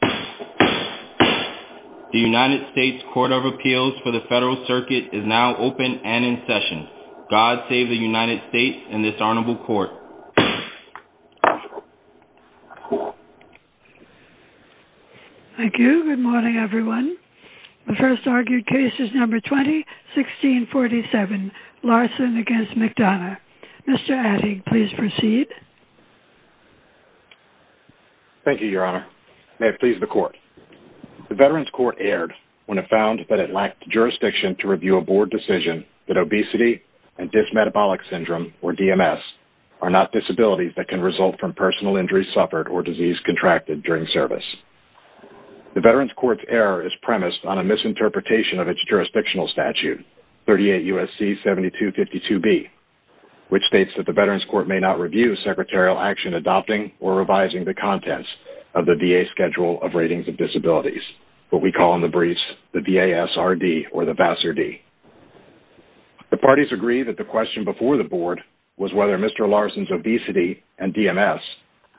The United States Court of Appeals for the Federal Circuit is now open and in session. God save the United States and this honorable court. Thank you. Good morning everyone. The first argued case is number 20-1647, Larson v. McDonough. Mr. Adig, please proceed. Thank you, Your Honor. May it please the court. The Veterans Court erred when it found that it lacked jurisdiction to review a board decision that obesity and dysmetabolic syndrome, or DMS, are not disabilities that can result from personal injuries suffered or disease contracted during service. The Veterans Court's error is premised on a misinterpretation of its jurisdictional statute, 38 U.S.C. 7252B, which states that the Veterans Court may not review secretarial action adopting or revising the contents of the VA Schedule of Ratings of Disabilities, what we call in the briefs the VASRD. The parties agree that the question before the board was whether Mr. Larson's obesity and DMS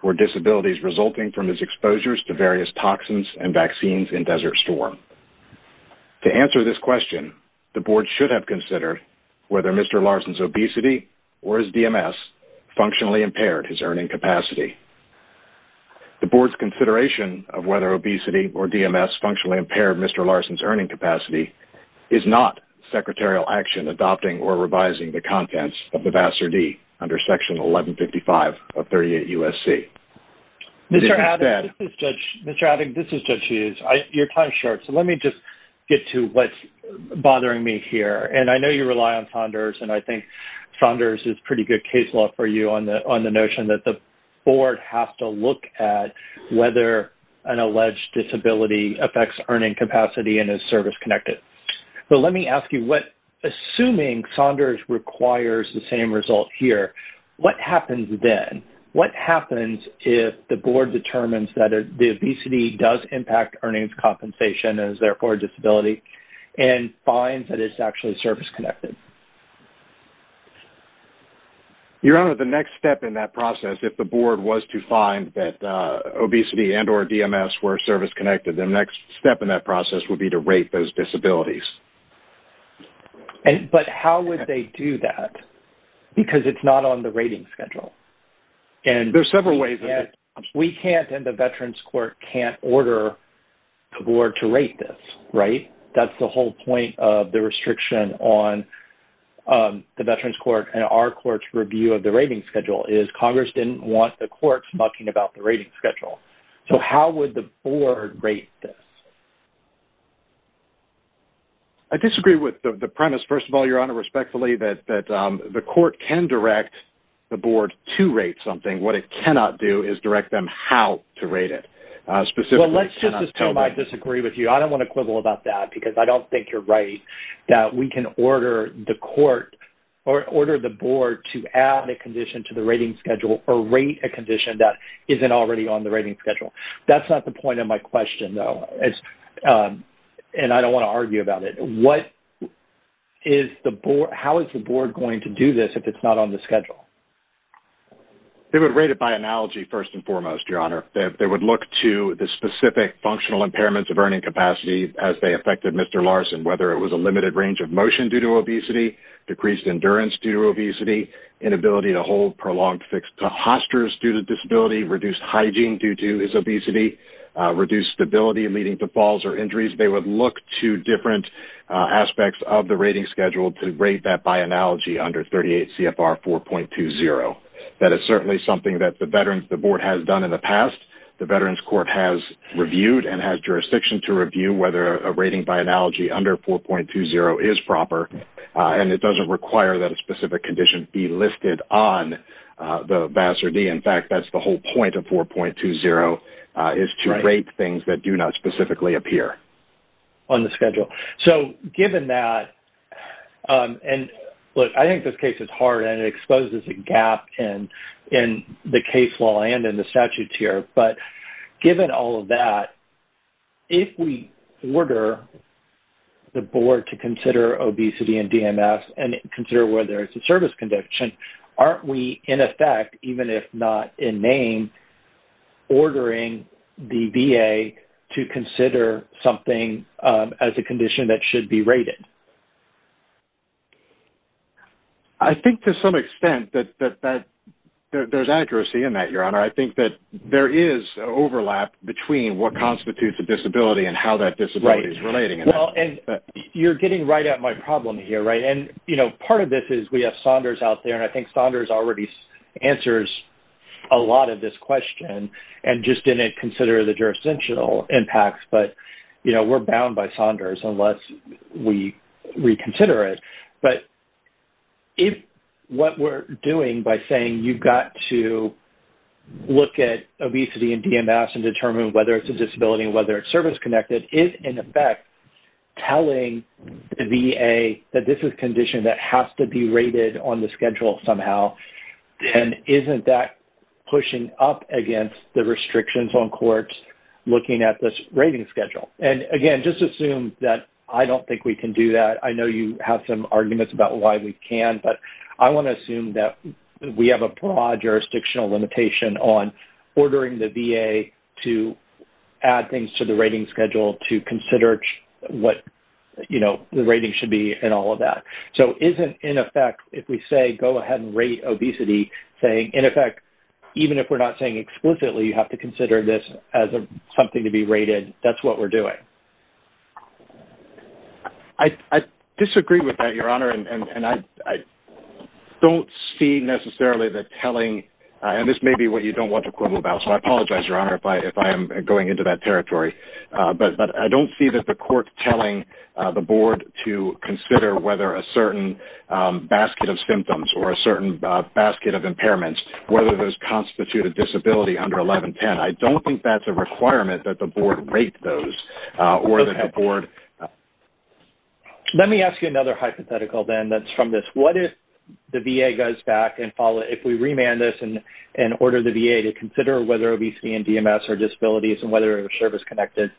were disabilities resulting from his exposures to various toxins and vaccines in Desert Storm. To answer this question, the board should have considered whether Mr. Larson's obesity or his DMS functionally impaired his earning capacity. The board's consideration of whether obesity or DMS functionally impaired Mr. Larson's earning capacity is not secretarial action adopting or revising the contents of the VASRD under Section 1155 of 38 U.S.C. Mr. Abbott, this is Judge Hughes. Your time is short, so let me just get to what's bothering me here. And I know you rely on Saunders, and I think Saunders is pretty good case law for you on the notion that the board has to look at whether an alleged disability affects earning capacity and is service-connected. But let me ask you, assuming Saunders requires the same result here, what happens then? What happens if the board determines that the obesity does impact earnings compensation and is therefore a disability and finds that it's actually service-connected? Your Honor, the next step in that process, if the board was to find that obesity and or DMS were service-connected, the next step in that process would be to rate those disabilities. But how would they do that? Because it's not on the rating schedule. There are several ways. We can't and the Veterans Court can't order the board to rate this, right? That's the whole point of the restriction on the Veterans Court and our court's review of the rating schedule is Congress didn't want the courts mucking about the rating schedule. So how would the board rate this? I disagree with the premise, first of all, Your Honor, respectfully, that the court can direct the board to rate something. What it cannot do is direct them how to rate it. Specifically, it cannot tell them. Well, let's just assume I disagree with you. I don't want to quibble about that because I don't think you're right that we can order the court or order the board to add a condition to the rating schedule or rate a condition that isn't already on the rating schedule. That's not the point of my question, though, and I don't want to argue about it. How is the board going to do this if it's not on the schedule? They would rate it by analogy, first and foremost, Your Honor. They would look to the specific functional impairments of earning capacity as they affected Mr. Larson, whether it was a limited range of motion due to obesity, decreased endurance due to obesity, inability to hold prolonged fix to hosters due to disability, reduced hygiene due to his obesity, reduced stability leading to falls or injuries. They would look to different aspects of the rating schedule to rate that by analogy under 38 CFR 4.20. That is certainly something that the board has done in the past. The Veterans Court has reviewed and has jurisdiction to review whether a rating by analogy under 4.20 is proper, and it doesn't require that a specific condition be listed on the VAS or D. In fact, that's the whole point of 4.20 is to rate things that do not specifically appear on the schedule. Given that, and look, I think this case is hard and it exposes a gap in the case law and in the statute here, but given all of that, if we order the board to consider obesity and DMS and consider whether it's a service condition, aren't we in effect, even if not in name, ordering the VA to consider something as a condition that should be rated? I think to some extent that there's accuracy in that, Your Honor. I think that there is overlap between what constitutes a disability and how that disability is relating. You're getting right at my problem here. Part of this is we have Saunders out there, and I think Saunders already answers a lot of this question and just didn't consider the jurisdictional impacts, but we're bound by Saunders unless we reconsider it. But if what we're doing by saying you've got to look at obesity and DMS and determine whether it's a disability and whether it's service-connected is, in effect, telling the VA that this is a condition that has to be rated on the schedule somehow, then isn't that pushing up against the restrictions on courts looking at this rating schedule? Again, just assume that I don't think we can do that. I know you have some arguments about why we can't, but I want to assume that we have a broad jurisdictional limitation on ordering the VA to add things to the rating schedule to consider what the rating should be and all of that. So isn't, in effect, if we say go ahead and rate obesity saying, in effect, even if we're not saying explicitly you have to consider this as something to be rated, that's what we're doing? I disagree with that, Your Honor, and I don't see necessarily the telling. And this may be what you don't want to quibble about, so I apologize, Your Honor, if I am going into that territory. But I don't see the court telling the board to consider whether a certain basket of symptoms or a certain basket of impairments, whether those constitute a disability under 1110. I don't think that's a requirement that the board rate those or that the board. Let me ask you another hypothetical then that's from this. What if the VA goes back and follow it? If we remand this and order the VA to consider whether obesity and DMS are disabilities and whether they're service-connected,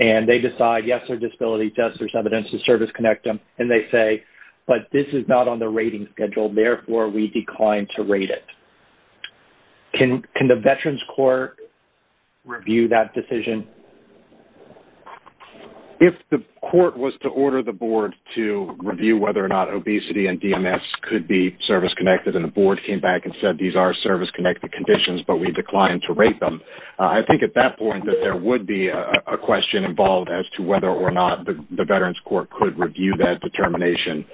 and they decide, yes, they're disability, yes, there's evidence to service-connect them, and they say, but this is not on the rating schedule. Therefore, we decline to rate it. Can the Veterans Court review that decision? If the court was to order the board to review whether or not obesity and DMS could be service-connected and the board came back and said, these are service-connected conditions, but we decline to rate them, I think at that point that there would be a question involved as to whether or not the Veterans Court could review that determination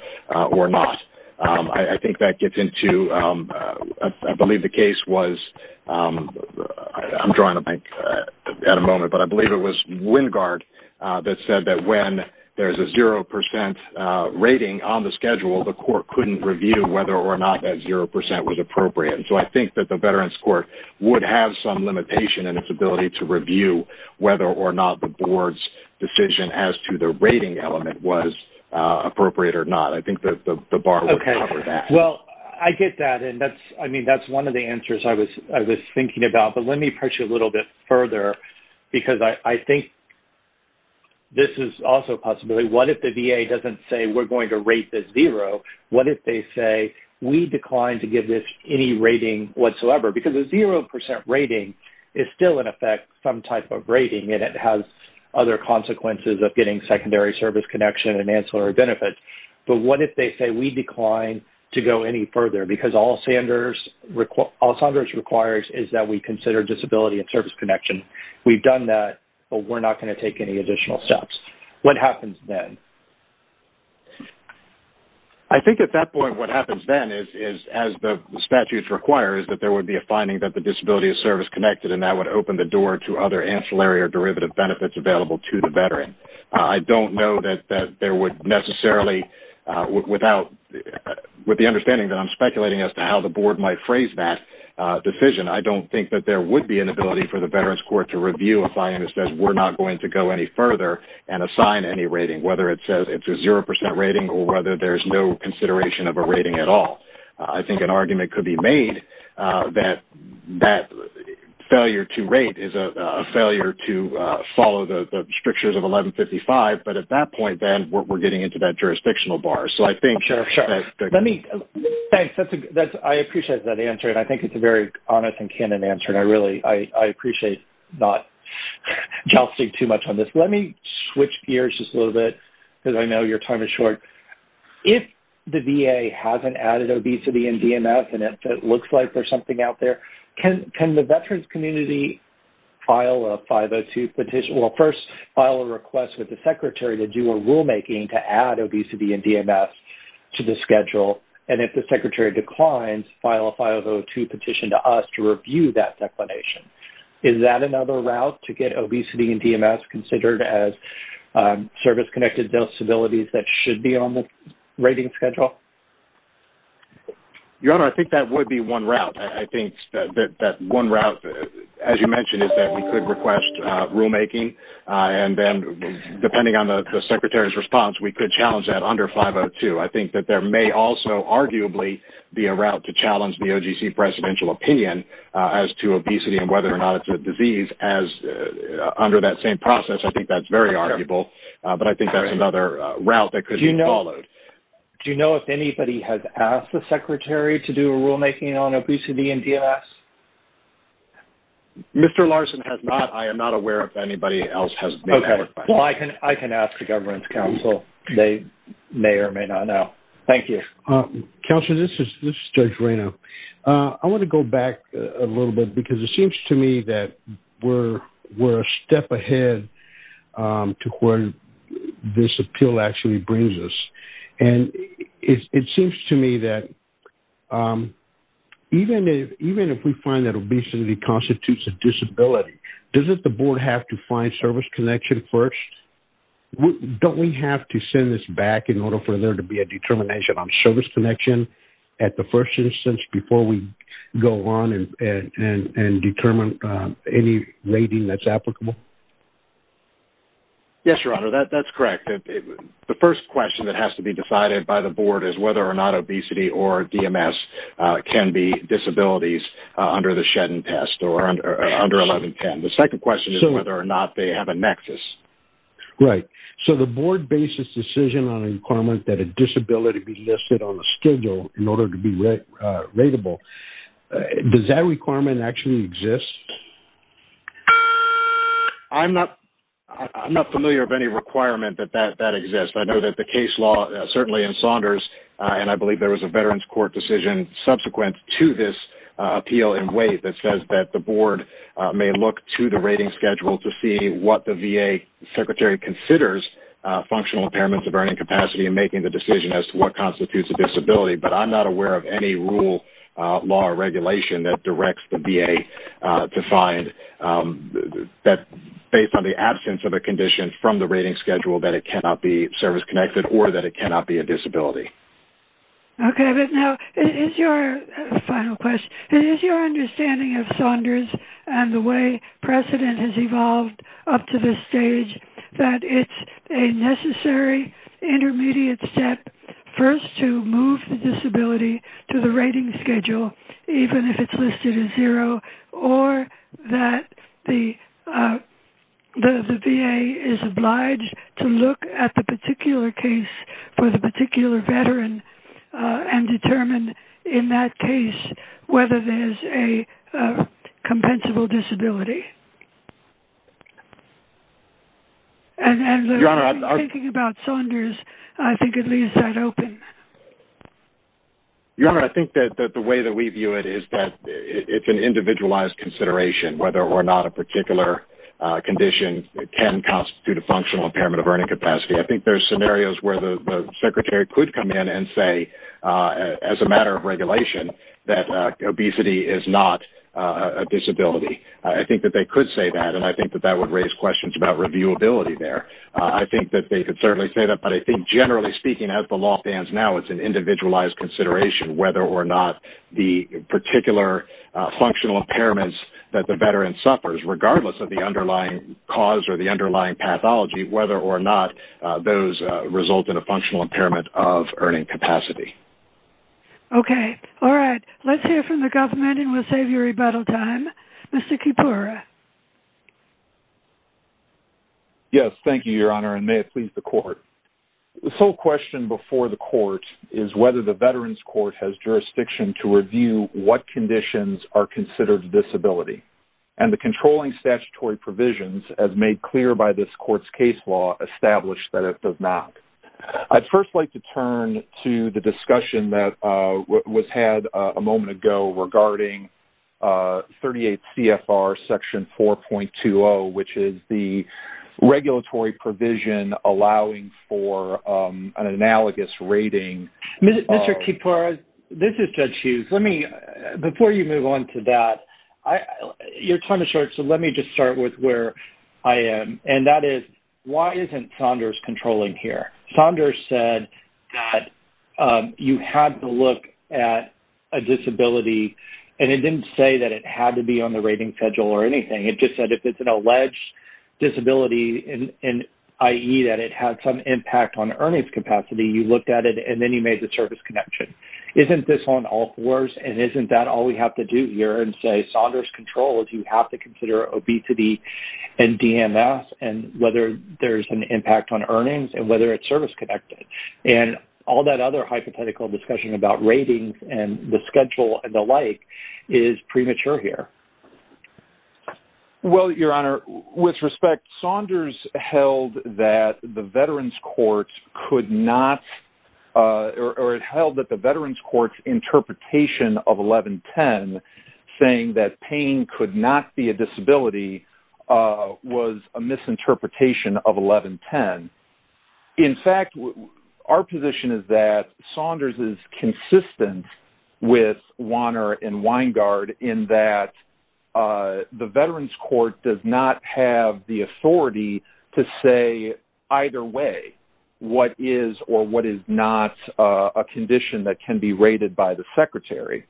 or not. I think that gets into, I believe the case was, I'm drawing a blank at the moment, but I believe it was Wingard that said that when there's a 0% rating on the schedule, the court couldn't review whether or not that 0% was appropriate. So I think that the Veterans Court would have some limitation in its ability to review whether or not the board's decision as to the rating element was appropriate or not. I think the bar would cover that. Well, I get that, and that's one of the answers I was thinking about, but let me push you a little bit further because I think this is also a possibility. What if the VA doesn't say we're going to rate this 0? What if they say we decline to give this any rating whatsoever? Because a 0% rating is still, in effect, some type of rating, and it has other consequences of getting secondary service connection and ancillary benefits. But what if they say we decline to go any further? Because all Sanders requires is that we consider disability and service connection. We've done that, but we're not going to take any additional steps. What happens then? I think at that point what happens then is, as the statutes require, is that there would be a finding that the disability is service-connected, and that would open the door to other ancillary or derivative benefits available to the Veteran. I don't know that there would necessarily, with the understanding that I'm speculating as to how the Board might phrase that decision, I don't think that there would be an ability for the Veterans Court to review a finding that says we're not going to go any further and assign any rating, whether it says it's a 0% rating or whether there's no consideration of a rating at all. I think an argument could be made that that failure to rate is a failure to follow the strictures of 1155, but at that point, then, we're getting into that jurisdictional bar. Thanks. I appreciate that answer, and I think it's a very honest and candid answer. I appreciate not jousting too much on this. Let me switch gears just a little bit because I know your time is short. If the VA hasn't added obesity and DMS and it looks like there's something out there, can the Veterans community first file a request with the Secretary to do a rulemaking to add obesity and DMS to the schedule, and if the Secretary declines, file a 502 petition to us to review that declination. Is that another route to get obesity and DMS considered as service-connected disabilities that should be on the rating schedule? Your Honor, I think that would be one route. I think that one route, as you mentioned, is that we could request rulemaking, and then depending on the Secretary's response, we could challenge that under 502. I think that there may also arguably be a route to challenge the OGC presidential opinion as to obesity and whether or not it's a disease under that same process. I think that's very arguable, but I think that's another route that could be followed. Do you know if anybody has asked the Secretary to do a rulemaking on obesity and DMS? Mr. Larson has not. I am not aware if anybody else has made that request. Okay. Well, I can ask the Governance Council. They may or may not know. Thank you. Counselor, this is Judge Reyna. I want to go back a little bit because it seems to me that we're a step ahead to where this appeal actually brings us. It seems to me that even if we find that obesity constitutes a disability, doesn't the Board have to find service connection first? Don't we have to send this back in order for there to be a determination on service connection at the first instance before we go on and determine any rating that's applicable? Yes, Your Honor, that's correct. The first question that has to be decided by the Board is whether or not obesity or DMS can be disabilities under the Shedden test or under 1110. The second question is whether or not they have a nexus. Right. So the Board bases decision on a requirement that a disability be listed on the schedule in order to be rateable. Does that requirement actually exist? I'm not familiar of any requirement that that exists. I know that the case law, certainly in Saunders, and I believe there was a Veterans Court decision subsequent to this appeal in Waite that says that the Board may look to the rating schedule to see what the VA Secretary considers functional impairments of earning capacity in making the decision as to what constitutes a disability. But I'm not aware of any rule, law, or regulation that directs the VA to find that based on the absence of a condition from the rating schedule that it cannot be service-connected or that it cannot be a disability. Okay. But now is your final question, is your understanding of Saunders and the way precedent has evolved up to this stage that it's a necessary intermediate step first to move the disability to the rating schedule, even if it's listed as zero, or that the VA is obliged to look at the particular case for the particular Veteran and determine in that case whether there's a compensable disability? And thinking about Saunders, I think it leaves that open. Your Honor, I think that the way that we view it is that it's an individualized consideration, whether or not a particular condition can constitute a functional impairment of earning capacity. I think there's scenarios where the Secretary could come in and say, as a matter of regulation, that obesity is not a disability. I think that they could say that, and I think that that would raise questions about reviewability there. I think that they could certainly say that, but I think generally speaking, as the law stands now, it's an individualized consideration whether or not the particular functional impairments that the Veteran suffers, regardless of the underlying cause or the underlying pathology, whether or not those result in a functional impairment of earning capacity. Okay. All right. Let's hear from the government, and we'll save you rebuttal time. Mr. Kipura. Yes, thank you, Your Honor, and may it please the Court. The sole question before the Court is whether the Veterans Court has jurisdiction to review what conditions are considered disability. And the controlling statutory provisions, as made clear by this Court's case law, establish that it does not. I'd first like to turn to the discussion that was had a moment ago regarding 38 CFR Section 4.20, which is the regulatory provision allowing for an analogous rating. Mr. Kipura, this is Judge Hughes. Before you move on to that, your time is short, so let me just start with where I am. And that is, why isn't Saunders controlling here? Saunders said that you had to look at a disability, and it didn't say that it had to be on the rating schedule or anything. It just said if it's an alleged disability, i.e., that it had some impact on earnings capacity, you looked at it, and then you made the service connection. Isn't this on all fours, and isn't that all we have to do here and say Saunders controls? You have to consider obesity and DMS and whether there's an impact on earnings and whether it's service-connected. And all that other hypothetical discussion about ratings and the schedule and the like is premature here. Well, Your Honor, with respect, Saunders held that the Veterans Court could not or held that the Veterans Court's interpretation of 1110, saying that pain could not be a disability, was a misinterpretation of 1110. In fact, our position is that Saunders is consistent with Wanner and Weingart in that the Veterans Court does not have the authority to say either way what is or what is not a condition that can be rated by the Secretary.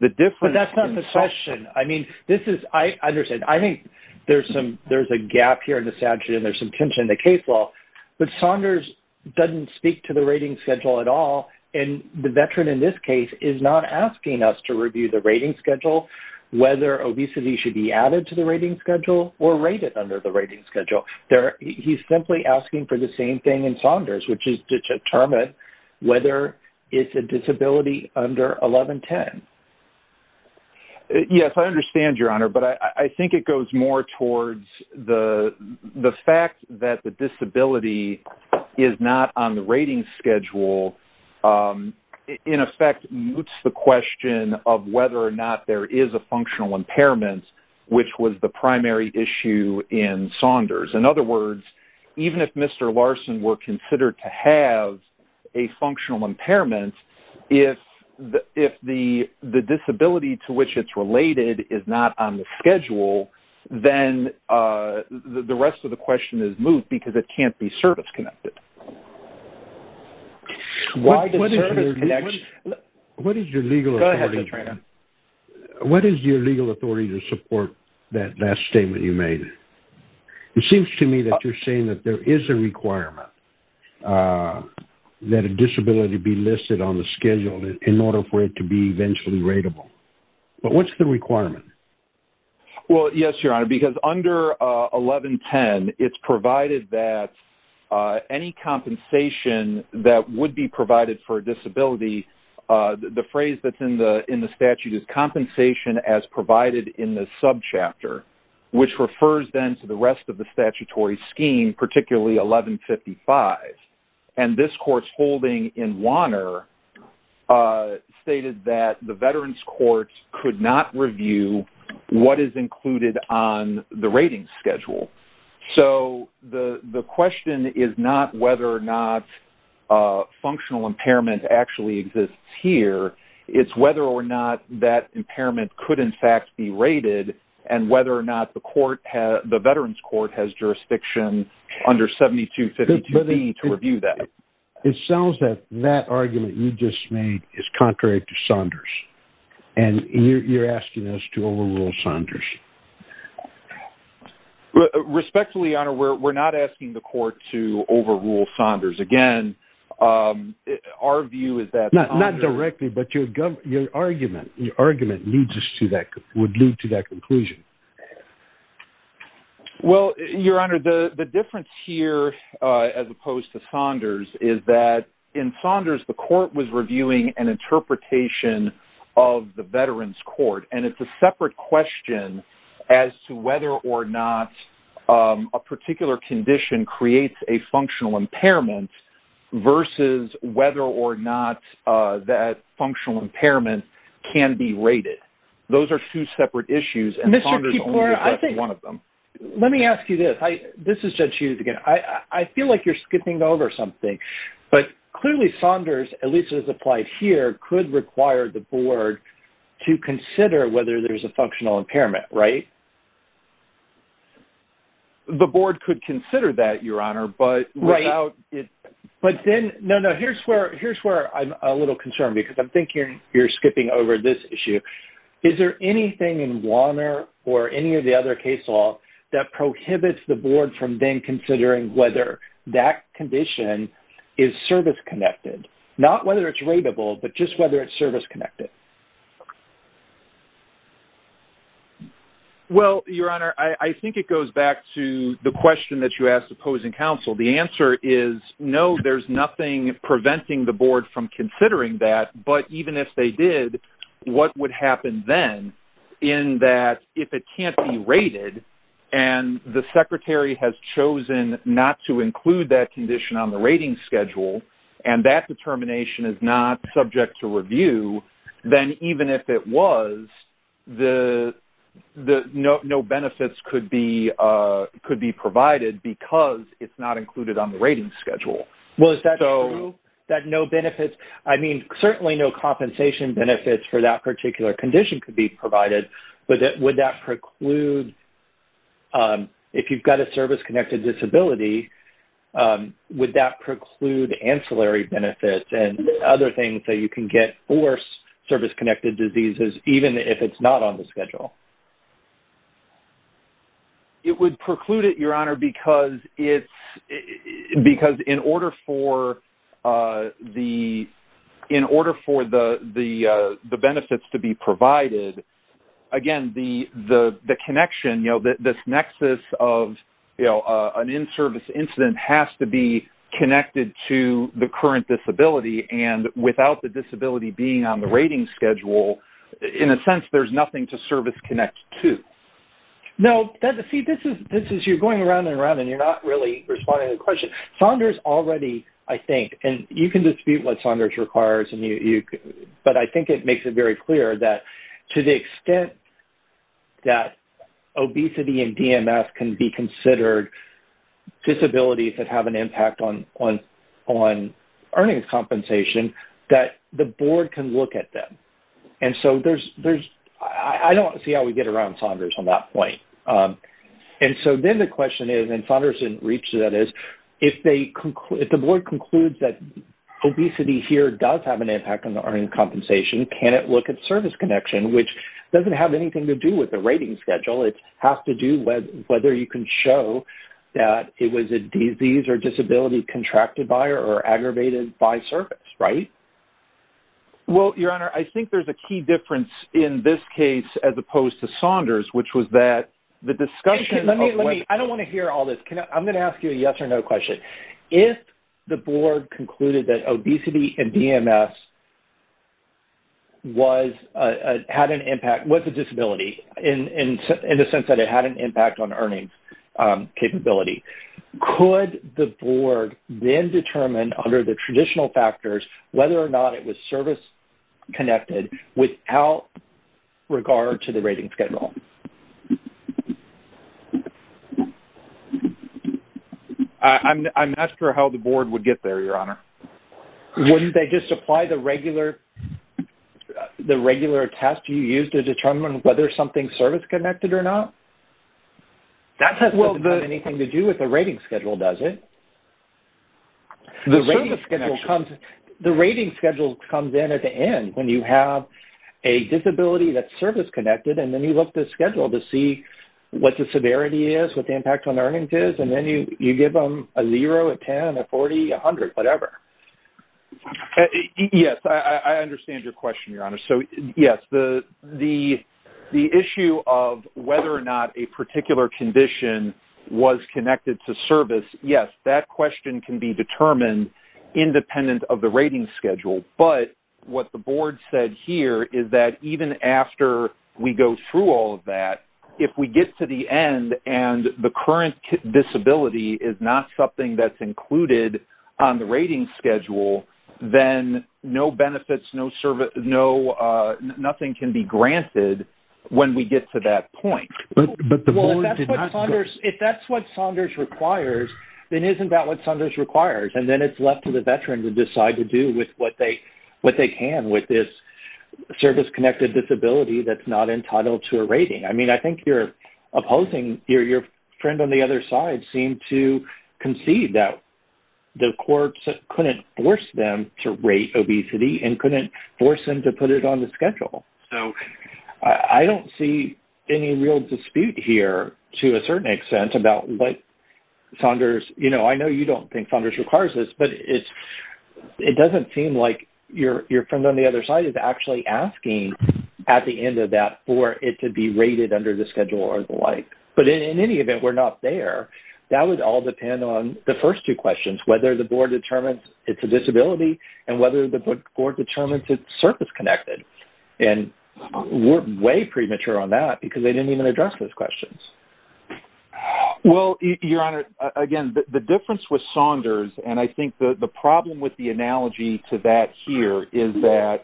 But that's not the question. I understand. I think there's a gap here in the statute and there's some tension in the case law, but Saunders doesn't speak to the rating schedule at all, and the Veteran in this case is not asking us to review the rating schedule, whether obesity should be added to the rating schedule or rated under the rating schedule. He's simply asking for the same thing in Saunders, which is to determine whether it's a disability under 1110. Yes, I understand, Your Honor, but I think it goes more towards the fact that the disability is not on the rating schedule, in effect, moots the question of whether or not there is a functional impairment, which was the primary issue in Saunders. In other words, even if Mr. Larson were considered to have a functional impairment, if the disability to which it's related is not on the schedule, then the rest of the question is moot because it can't be service-connected. What is your legal authority to support that last statement you made? It seems to me that you're saying that there is a requirement that a disability be listed on the schedule in order for it to be eventually ratable. But what's the requirement? Well, yes, Your Honor, because under 1110, it's provided that any compensation that would be provided for a disability, the phrase that's in the statute is compensation as provided in the subchapter, which refers then to the rest of the statutory scheme, particularly 1155. And this court's holding in Wanner stated that the Veterans Court could not review what is included on the rating schedule. So the question is not whether or not functional impairment actually exists here. It's whether or not that impairment could, in fact, be rated and whether or not the Veterans Court has jurisdiction under 7252B to review that. It sounds that that argument you just made is contrary to Saunders, and you're asking us to overrule Saunders. Respectfully, Your Honor, we're not asking the court to overrule Saunders. Again, our view is that Saunders... Well, Your Honor, the difference here as opposed to Saunders is that in Saunders, the court was reviewing an interpretation of the Veterans Court, and it's a separate question as to whether or not a particular condition creates a functional impairment versus whether or not that functional impairment can be rated. Those are two separate issues, and Saunders only has one of them. Let me ask you this. This is Judge Hughes again. I feel like you're skipping over something, but clearly Saunders, at least as applied here, could require the board to consider whether there's a functional impairment, right? The board could consider that, Your Honor, but without it... Right. But then, no, no, here's where I'm a little concerned because I'm thinking you're skipping over this issue. Is there anything in Warner or any of the other case law that prohibits the board from then considering whether that condition is service-connected, not whether it's rateable, but just whether it's service-connected? Well, Your Honor, I think it goes back to the question that you asked opposing counsel. The answer is no, there's nothing preventing the board from considering that, but even if they did, what would happen then in that if it can't be rated and the secretary has chosen not to include that condition on the rating schedule and that determination is not subject to review, then even if it was, no benefits could be provided because it's not included on the rating schedule. Well, is that true, that no benefits, I mean, certainly no compensation benefits for that particular condition could be provided, but would that preclude, if you've got a service-connected disability, would that preclude ancillary benefits and other things that you can get for service-connected diseases even if it's not on the schedule? It would preclude it, Your Honor, because in order for the benefits to be provided, again, the connection, this nexus of an in-service incident has to be connected to the current disability, and without the disability being on the rating schedule, in a sense, there's nothing to service-connect to. No, see, you're going around and around, and you're not really responding to the question. Saunders already, I think, and you can dispute what Saunders requires, but I think it makes it very clear that to the extent that obesity and DMS can be considered disabilities that have an impact on earnings compensation, that the board can look at them. And so I don't see how we get around Saunders on that point. And so then the question is, and Saunders didn't reach to that, is if the board concludes that obesity here does have an impact on the earnings compensation, can it look at service connection, which doesn't have anything to do with the rating schedule. It has to do with whether you can show that it was a disease or a disability contracted by or aggravated by service, right? Well, Your Honor, I think there's a key difference in this case as opposed to Saunders, which was that the discussion of what – I don't want to hear all this. I'm going to ask you a yes or no question. If the board concluded that obesity and DMS had an impact, was a disability, in the sense that it had an impact on earnings capability, could the board then determine under the traditional factors whether or not it was service-connected without regard to the rating schedule? I'm not sure how the board would get there, Your Honor. Wouldn't they just apply the regular test you use to determine whether something's service-connected or not? That doesn't have anything to do with the rating schedule, does it? The rating schedule comes in at the end when you have a disability that's service-connected and then you look at the schedule to see what the severity is, what the impact on earnings is, and then you give them a zero, a 10, a 40, a 100, whatever. So, yes, the issue of whether or not a particular condition was connected to service, yes, that question can be determined independent of the rating schedule. But what the board said here is that even after we go through all of that, if we get to the end and the current disability is not something that's included on the nothing can be granted when we get to that point. If that's what Saunders requires, then isn't that what Saunders requires? And then it's left to the veteran to decide to do with what they can with this service-connected disability that's not entitled to a rating. I mean, I think you're opposing. Your friend on the other side seemed to concede that the courts couldn't force them to rate obesity and couldn't force them to put it on the schedule. So I don't see any real dispute here to a certain extent about what Saunders, you know, I know you don't think Saunders requires this, but it doesn't seem like your friend on the other side is actually asking at the end of that for it to be rated under the schedule or the like. But in any event, we're not there. That would all depend on the first two questions, whether the board determines it's a disability and whether the board determines it's service-connected. And we're way premature on that because they didn't even address those questions. Well, Your Honor, again, the difference with Saunders, and I think the problem with the analogy to that here is that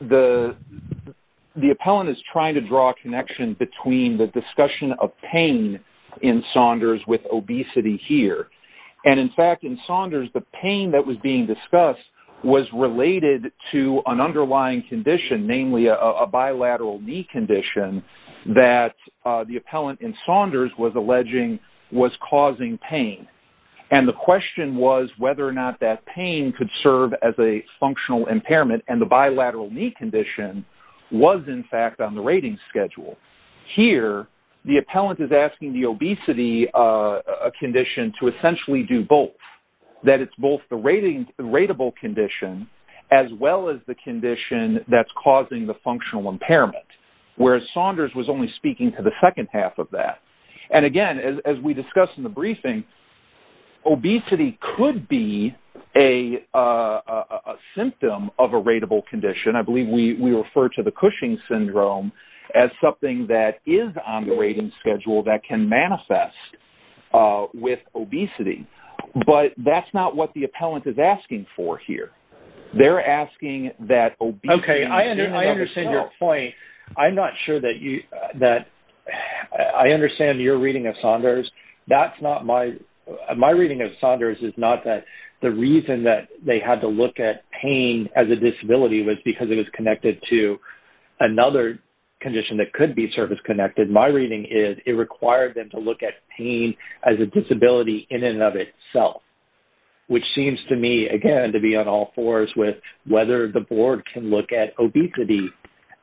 the appellant is trying to draw a connection between the discussion of pain in Saunders with obesity here. And, in fact, in Saunders, the pain that was being discussed was related to an underlying condition, namely a bilateral knee condition that the appellant in Saunders was alleging was causing pain. And the question was whether or not that pain could serve as a functional impairment, and the bilateral knee condition was, in fact, on the rating schedule. Here, the appellant is asking the obesity condition to essentially do both, that it's both the rateable condition as well as the condition that's causing the functional impairment, whereas Saunders was only speaking to the second half of that. And, again, as we discussed in the briefing, obesity could be a symptom of a rateable condition. I believe we refer to the Cushing syndrome as something that is on the rating schedule that can manifest with obesity. But that's not what the appellant is asking for here. They're asking that obesity... Okay, I understand your point. I'm not sure that you... I understand your reading of Saunders. That's not my... Because it is connected to another condition that could be service-connected. My reading is it required them to look at pain as a disability in and of itself, which seems to me, again, to be on all fours with whether the board can look at obesity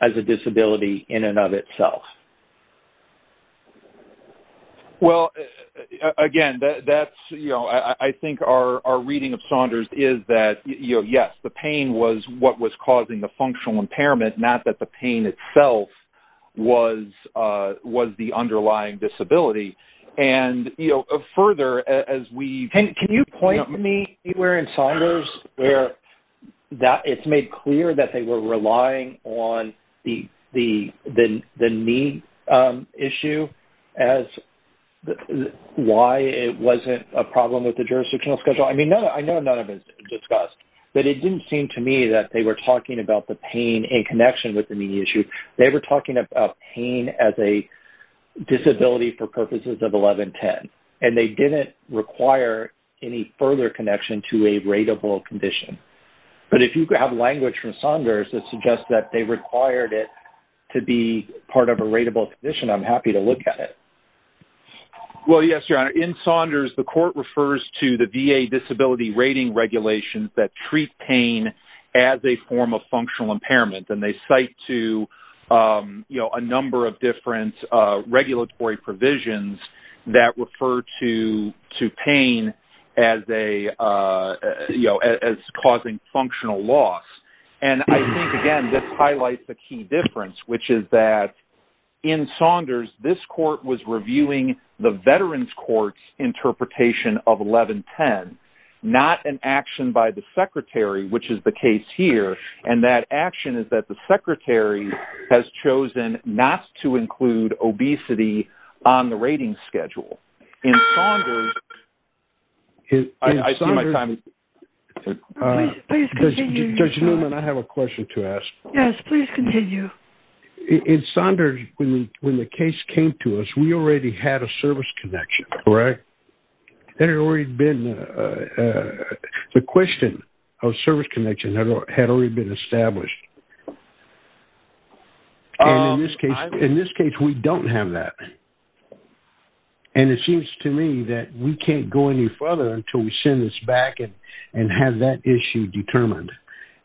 as a disability in and of itself. Well, again, I think our reading of Saunders is that, yes, the pain was what was causing the functional impairment, not that the pain itself was the underlying disability. And further, as we... Can you point me anywhere in Saunders where it's made clear that they were relying on the knee issue as why it wasn't a problem with the jurisdictional schedule? I mean, I know none of it is discussed, but it didn't seem to me that they were talking about the pain in connection with the knee issue. They were talking about pain as a disability for purposes of 1110. And they didn't require any further connection to a rateable condition. But if you have language from Saunders that suggests that they required it to be part of a rateable condition, I'm happy to look at it. Well, yes, Your Honor. In Saunders, the court refers to the VA disability rating regulations that treat pain as a form of functional impairment. And they cite to a number of different regulatory provisions that refer to pain as causing functional loss. And I think, again, this highlights the key difference, which is that in Saunders, this court was reviewing the Veterans Court's interpretation of 1110, not an action by the Secretary, which is the case here. And that action is that the Secretary has chosen not to include obesity on the rating schedule. In Saunders, I see my time is up. Judge Newman, I have a question to ask. Yes, please continue. In Saunders, when the case came to us, we already had a service connection, correct? There had already been a question of service connection that had already been established. In this case, we don't have that. And it seems to me that we can't go any further until we send this back and have that issue determined.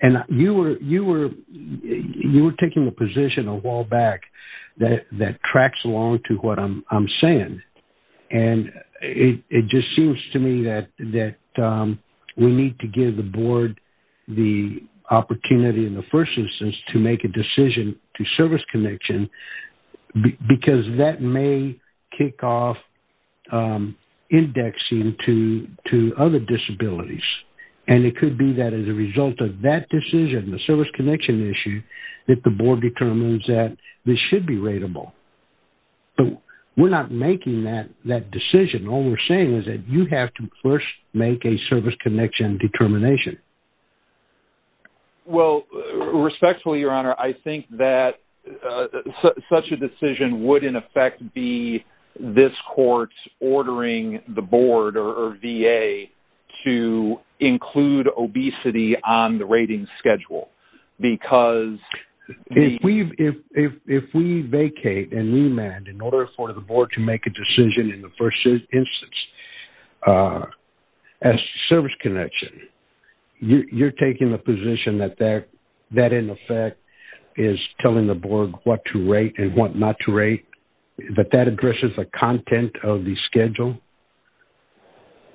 And you were taking a position a while back that tracks along to what I'm saying. And it just seems to me that we need to give the Board the opportunity in the first instance to make a decision to service connection because that may kick off indexing to other disabilities. And it could be that as a result of that decision, the service connection issue, that the Board determines that this should be rateable. We're not making that decision. All we're saying is that you have to first make a service connection determination. Well, respectfully, Your Honor, I think that such a decision would, in effect, be this court ordering the Board or VA to include obesity on the rating schedule because... If we vacate and remand in order for the Board to make a decision in the first instance as to service connection, you're taking the position that that, in effect, is telling the Board what to rate and what not to rate, that that addresses the content of the schedule?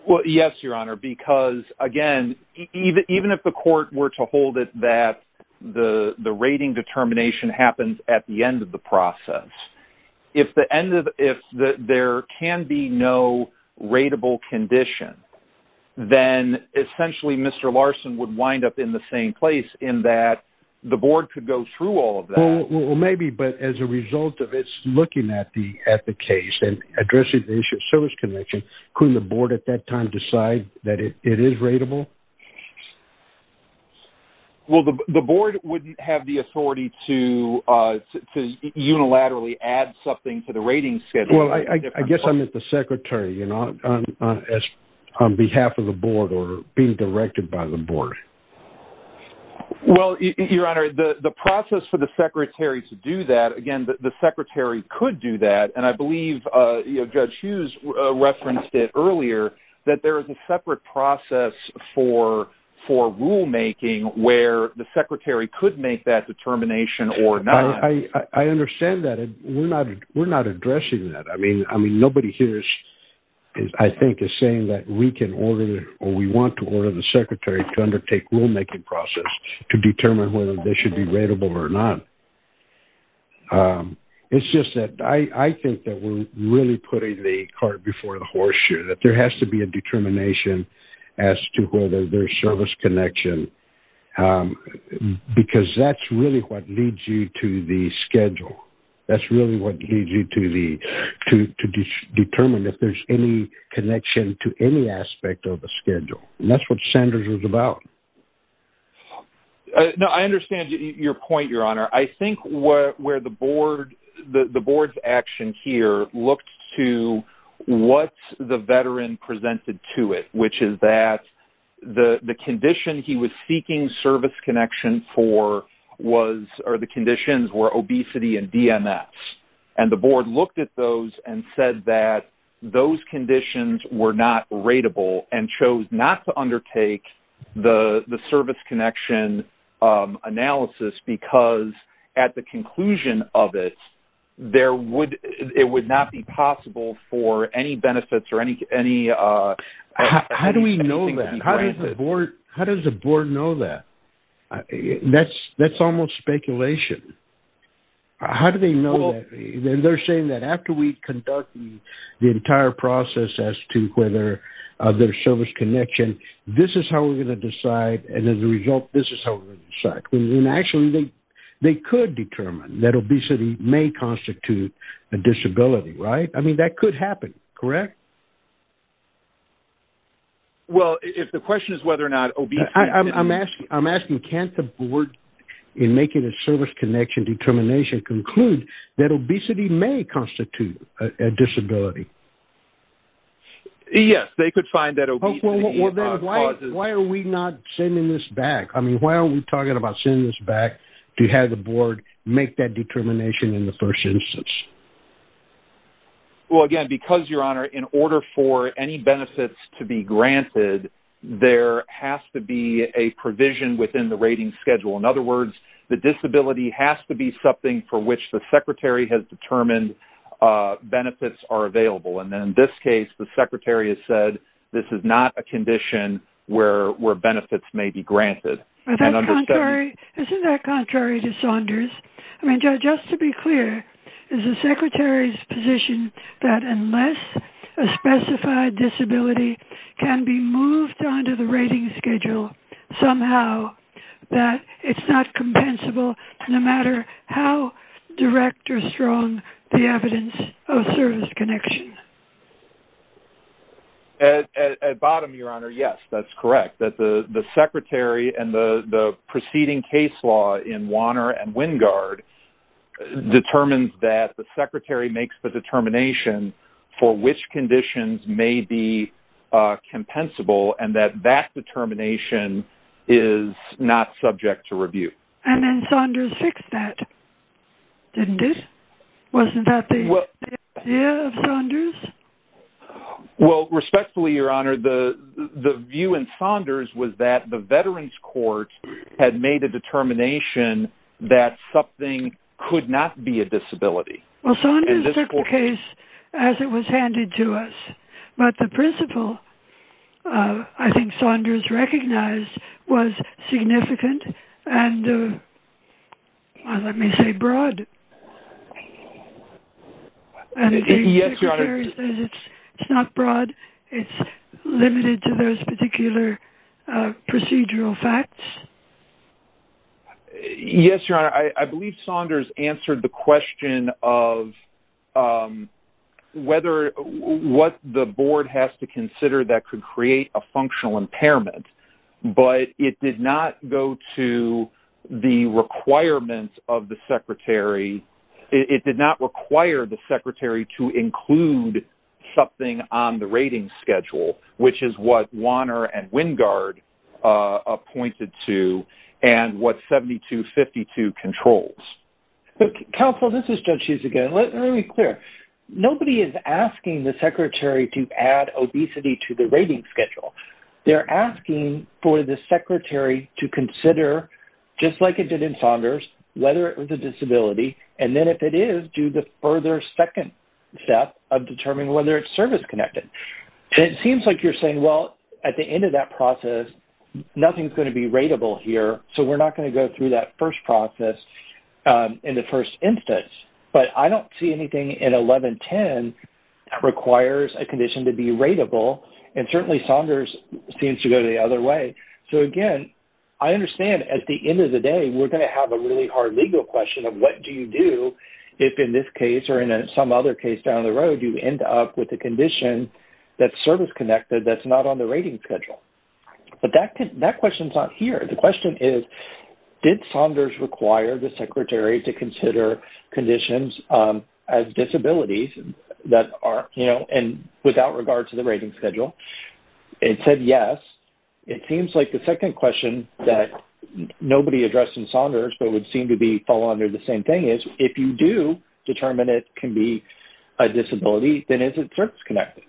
Well, yes, Your Honor, because, again, even if the court were to hold it that the rating determination happens at the end of the process, if there can be no rateable condition, then essentially Mr. Larson would wind up in the same place in that the Board could go through all of that. Well, maybe, but as a result of its looking at the case and addressing the issue of service connection, couldn't the Board at that time decide that it is rateable? Well, the Board wouldn't have the authority to unilaterally add something to the rating schedule. Well, I guess I'm at the Secretary, you know, on behalf of the Board or being directed by the Board. Well, Your Honor, the process for the Secretary to do that, again, the Secretary could do that, and I believe Judge Hughes referenced it earlier that there is a separate process for rulemaking where the Secretary could make that determination or not. I understand that, and we're not addressing that. I mean, nobody here, I think, is saying that we can order or we want to order the Secretary to undertake rulemaking process to determine whether they should be rateable or not. It's just that I think that we're really putting the cart before the horse here, that there has to be a determination as to whether there's service connection, because that's really what leads you to the schedule. That's really what leads you to determine if there's any connection to any aspect of the schedule. And that's what Sanders was about. No, I understand your point, Your Honor. I think where the Board's action here looked to what the Veteran presented to it, which is that the condition he was seeking service connection for was or the conditions were obesity and DMS. And the Board looked at those and said that those conditions were not rateable and chose not to undertake the service connection analysis because at the conclusion of it, it would not be possible for any benefits or anything to be granted. How do we know that? How does the Board know that? That's almost speculation. How do they know that? They're saying that after we conduct the entire process as to whether there's service connection, this is how we're going to decide, and as a result, this is how we're going to decide. And actually, they could determine that obesity may constitute a disability, right? I mean, that could happen, correct? Well, if the question is whether or not obesity... I'm asking, can't the Board, in making a service connection determination, conclude that obesity may constitute a disability? Yes, they could find that obesity causes... to have the Board make that determination in the first instance. Well, again, because, Your Honor, in order for any benefits to be granted, there has to be a provision within the rating schedule. In other words, the disability has to be something for which the Secretary has determined benefits are available. And in this case, the Secretary has said this is not a condition where benefits may be granted. Isn't that contrary to Saunders? I mean, just to be clear, is the Secretary's position that unless a specified disability can be moved onto the rating schedule somehow, that it's not compensable no matter how direct or strong the evidence of service connection? At bottom, Your Honor, yes, that's correct. That the Secretary and the preceding case law in Wanner and Wingard determines that the Secretary makes the determination for which conditions may be compensable and that that determination is not subject to review. And then Saunders fixed that, didn't it? Wasn't that the idea of Saunders? Well, respectfully, Your Honor, the view in Saunders was that the Veterans Court had made a determination that something could not be a disability. Well, Saunders took the case as it was handed to us, but the principle I think Saunders recognized was significant and, let me say, broad. And the Secretary says it's not broad. It's limited to those particular procedural facts? Yes, Your Honor. I believe Saunders answered the question of whether what the board has to consider that could create a functional impairment, but it did not go to the requirements of the Secretary. It did not require the Secretary to include something on the rating schedule, which is what Wanner and Wingard pointed to and what 7252 controls. Counsel, this is Judge Hughes again. Let me be clear. Nobody is asking the Secretary to add obesity to the rating schedule. They're asking for the Secretary to consider, just like it did in Saunders, whether it was a disability, and then, if it is, do the further second step of determining whether it's service-connected. And it seems like you're saying, well, at the end of that process, nothing is going to be rateable here, so we're not going to go through that first process in the first instance. But I don't see anything in 1110 that requires a condition to be rateable, and certainly Saunders seems to go the other way. So, again, I understand, at the end of the day, we're going to have a really hard legal question of what do you do if, in this case or in some other case down the road, you end up with a condition that's service-connected that's not on the rating schedule. But that question is not here. The question is, did Saunders require the Secretary to consider conditions as disabilities and without regard to the rating schedule? It said yes. It seems like the second question that nobody addressed in Saunders but would seem to fall under the same thing is, if you do determine it can be a disability, then is it service-connected?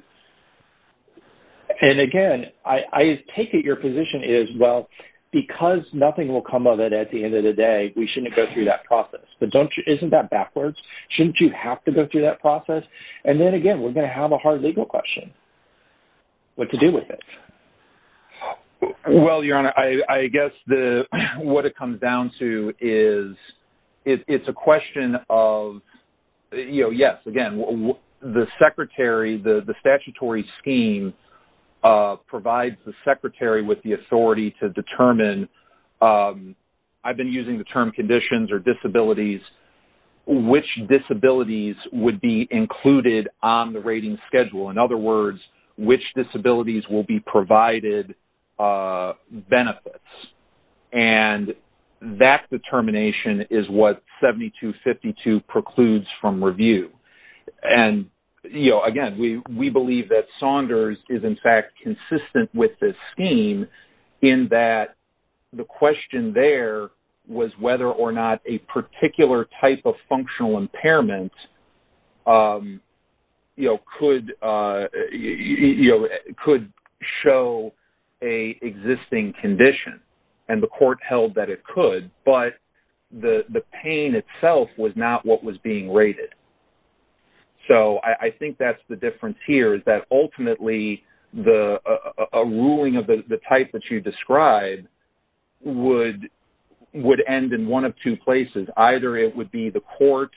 And, again, I take it your position is, well, because nothing will come of it at the end of the day, we shouldn't go through that process. But isn't that backwards? Shouldn't you have to go through that process? And then, again, we're going to have a hard legal question. What to do with it? Well, Your Honor, I guess what it comes down to is it's a question of, you know, yes. Again, the Secretary, the statutory scheme, provides the Secretary with the authority to determine. I've been using the term conditions or disabilities. Which disabilities would be included on the rating schedule? In other words, which disabilities will be provided benefits? And that determination is what 7252 precludes from review. And, you know, again, we believe that Saunders is, in fact, consistent with this scheme in that the question there was whether or not a particular type of functional impairment, you know, could show an existing condition. And the court held that it could. But the pain itself was not what was being rated. So I think that's the difference here is that, ultimately, a ruling of the type that you described would end in one of two places. Either it would be the court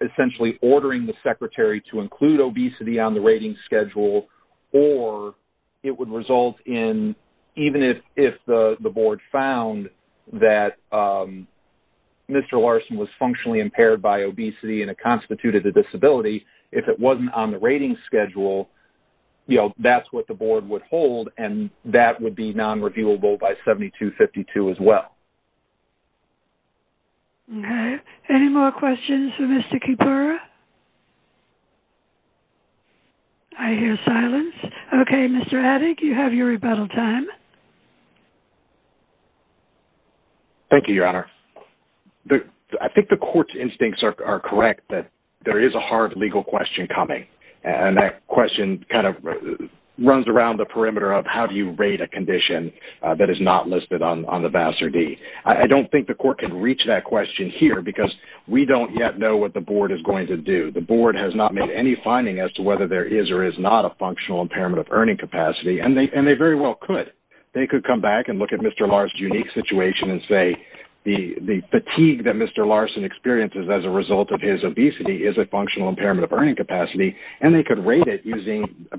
essentially ordering the Secretary to include obesity on the rating schedule, or it would result in, even if the Board found that Mr. Larson was functionally impaired by obesity and it constituted a disability, if it wasn't on the rating schedule, you know, that's what the Board would hold, and that would be non-reviewable by 7252 as well. Okay. Any more questions for Mr. Kipura? I hear silence. Okay, Mr. Adig, you have your rebuttal time. Thank you, Your Honor. I think the court's instincts are correct that there is a hard legal question coming, and that question kind of runs around the perimeter of how do you rate a condition that is not listed on the Vassar D. I don't think the court can reach that question here because we don't yet know what the Board is going to do. The Board has not made any finding as to whether there is or is not a functional impairment of earning capacity, and they very well could. They could come back and look at Mr. Larson's unique situation and say the fatigue that Mr. Larson experiences as a result of his obesity is a functional impairment of earning capacity, and they could rate it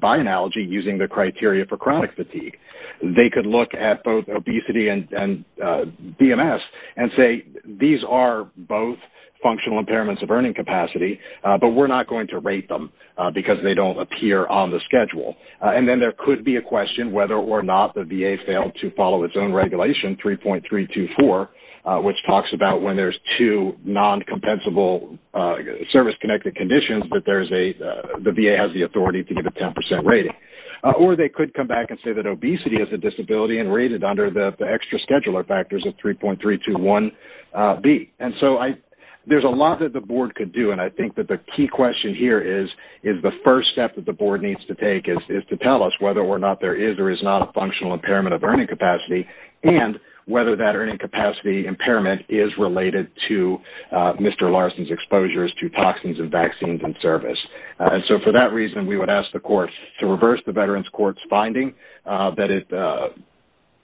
by analogy using the criteria for chronic fatigue. They could look at both obesity and BMS and say, these are both functional impairments of earning capacity, but we're not going to rate them because they don't appear on the schedule. And then there could be a question whether or not the VA failed to follow its own regulation, 3.324, which talks about when there's two non-compensable service-connected conditions that the VA has the authority to give a 10% rating. Or they could come back and say that obesity is a disability and rate it under the extra scheduler factors of 3.321B. And so there's a lot that the Board could do, and I think that the key question here is the first step that the Board needs to take is to tell us whether or not there is or is not a functional impairment of earning capacity and whether that earning capacity impairment is related to Mr. Larson's exposures to toxins and vaccines in service. So for that reason, we would ask the courts to reverse the Veterans Court's finding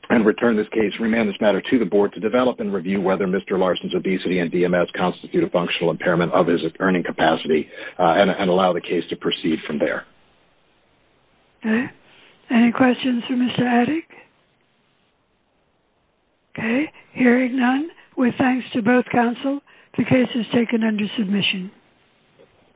and return this case, remand this matter to the Board to develop and review whether Mr. Larson's obesity and BMS constitute a functional impairment of his earning capacity and allow the case to proceed from there. Any questions for Mr. Adick? Hearing none, with thanks to both counsel, the case is taken under submission.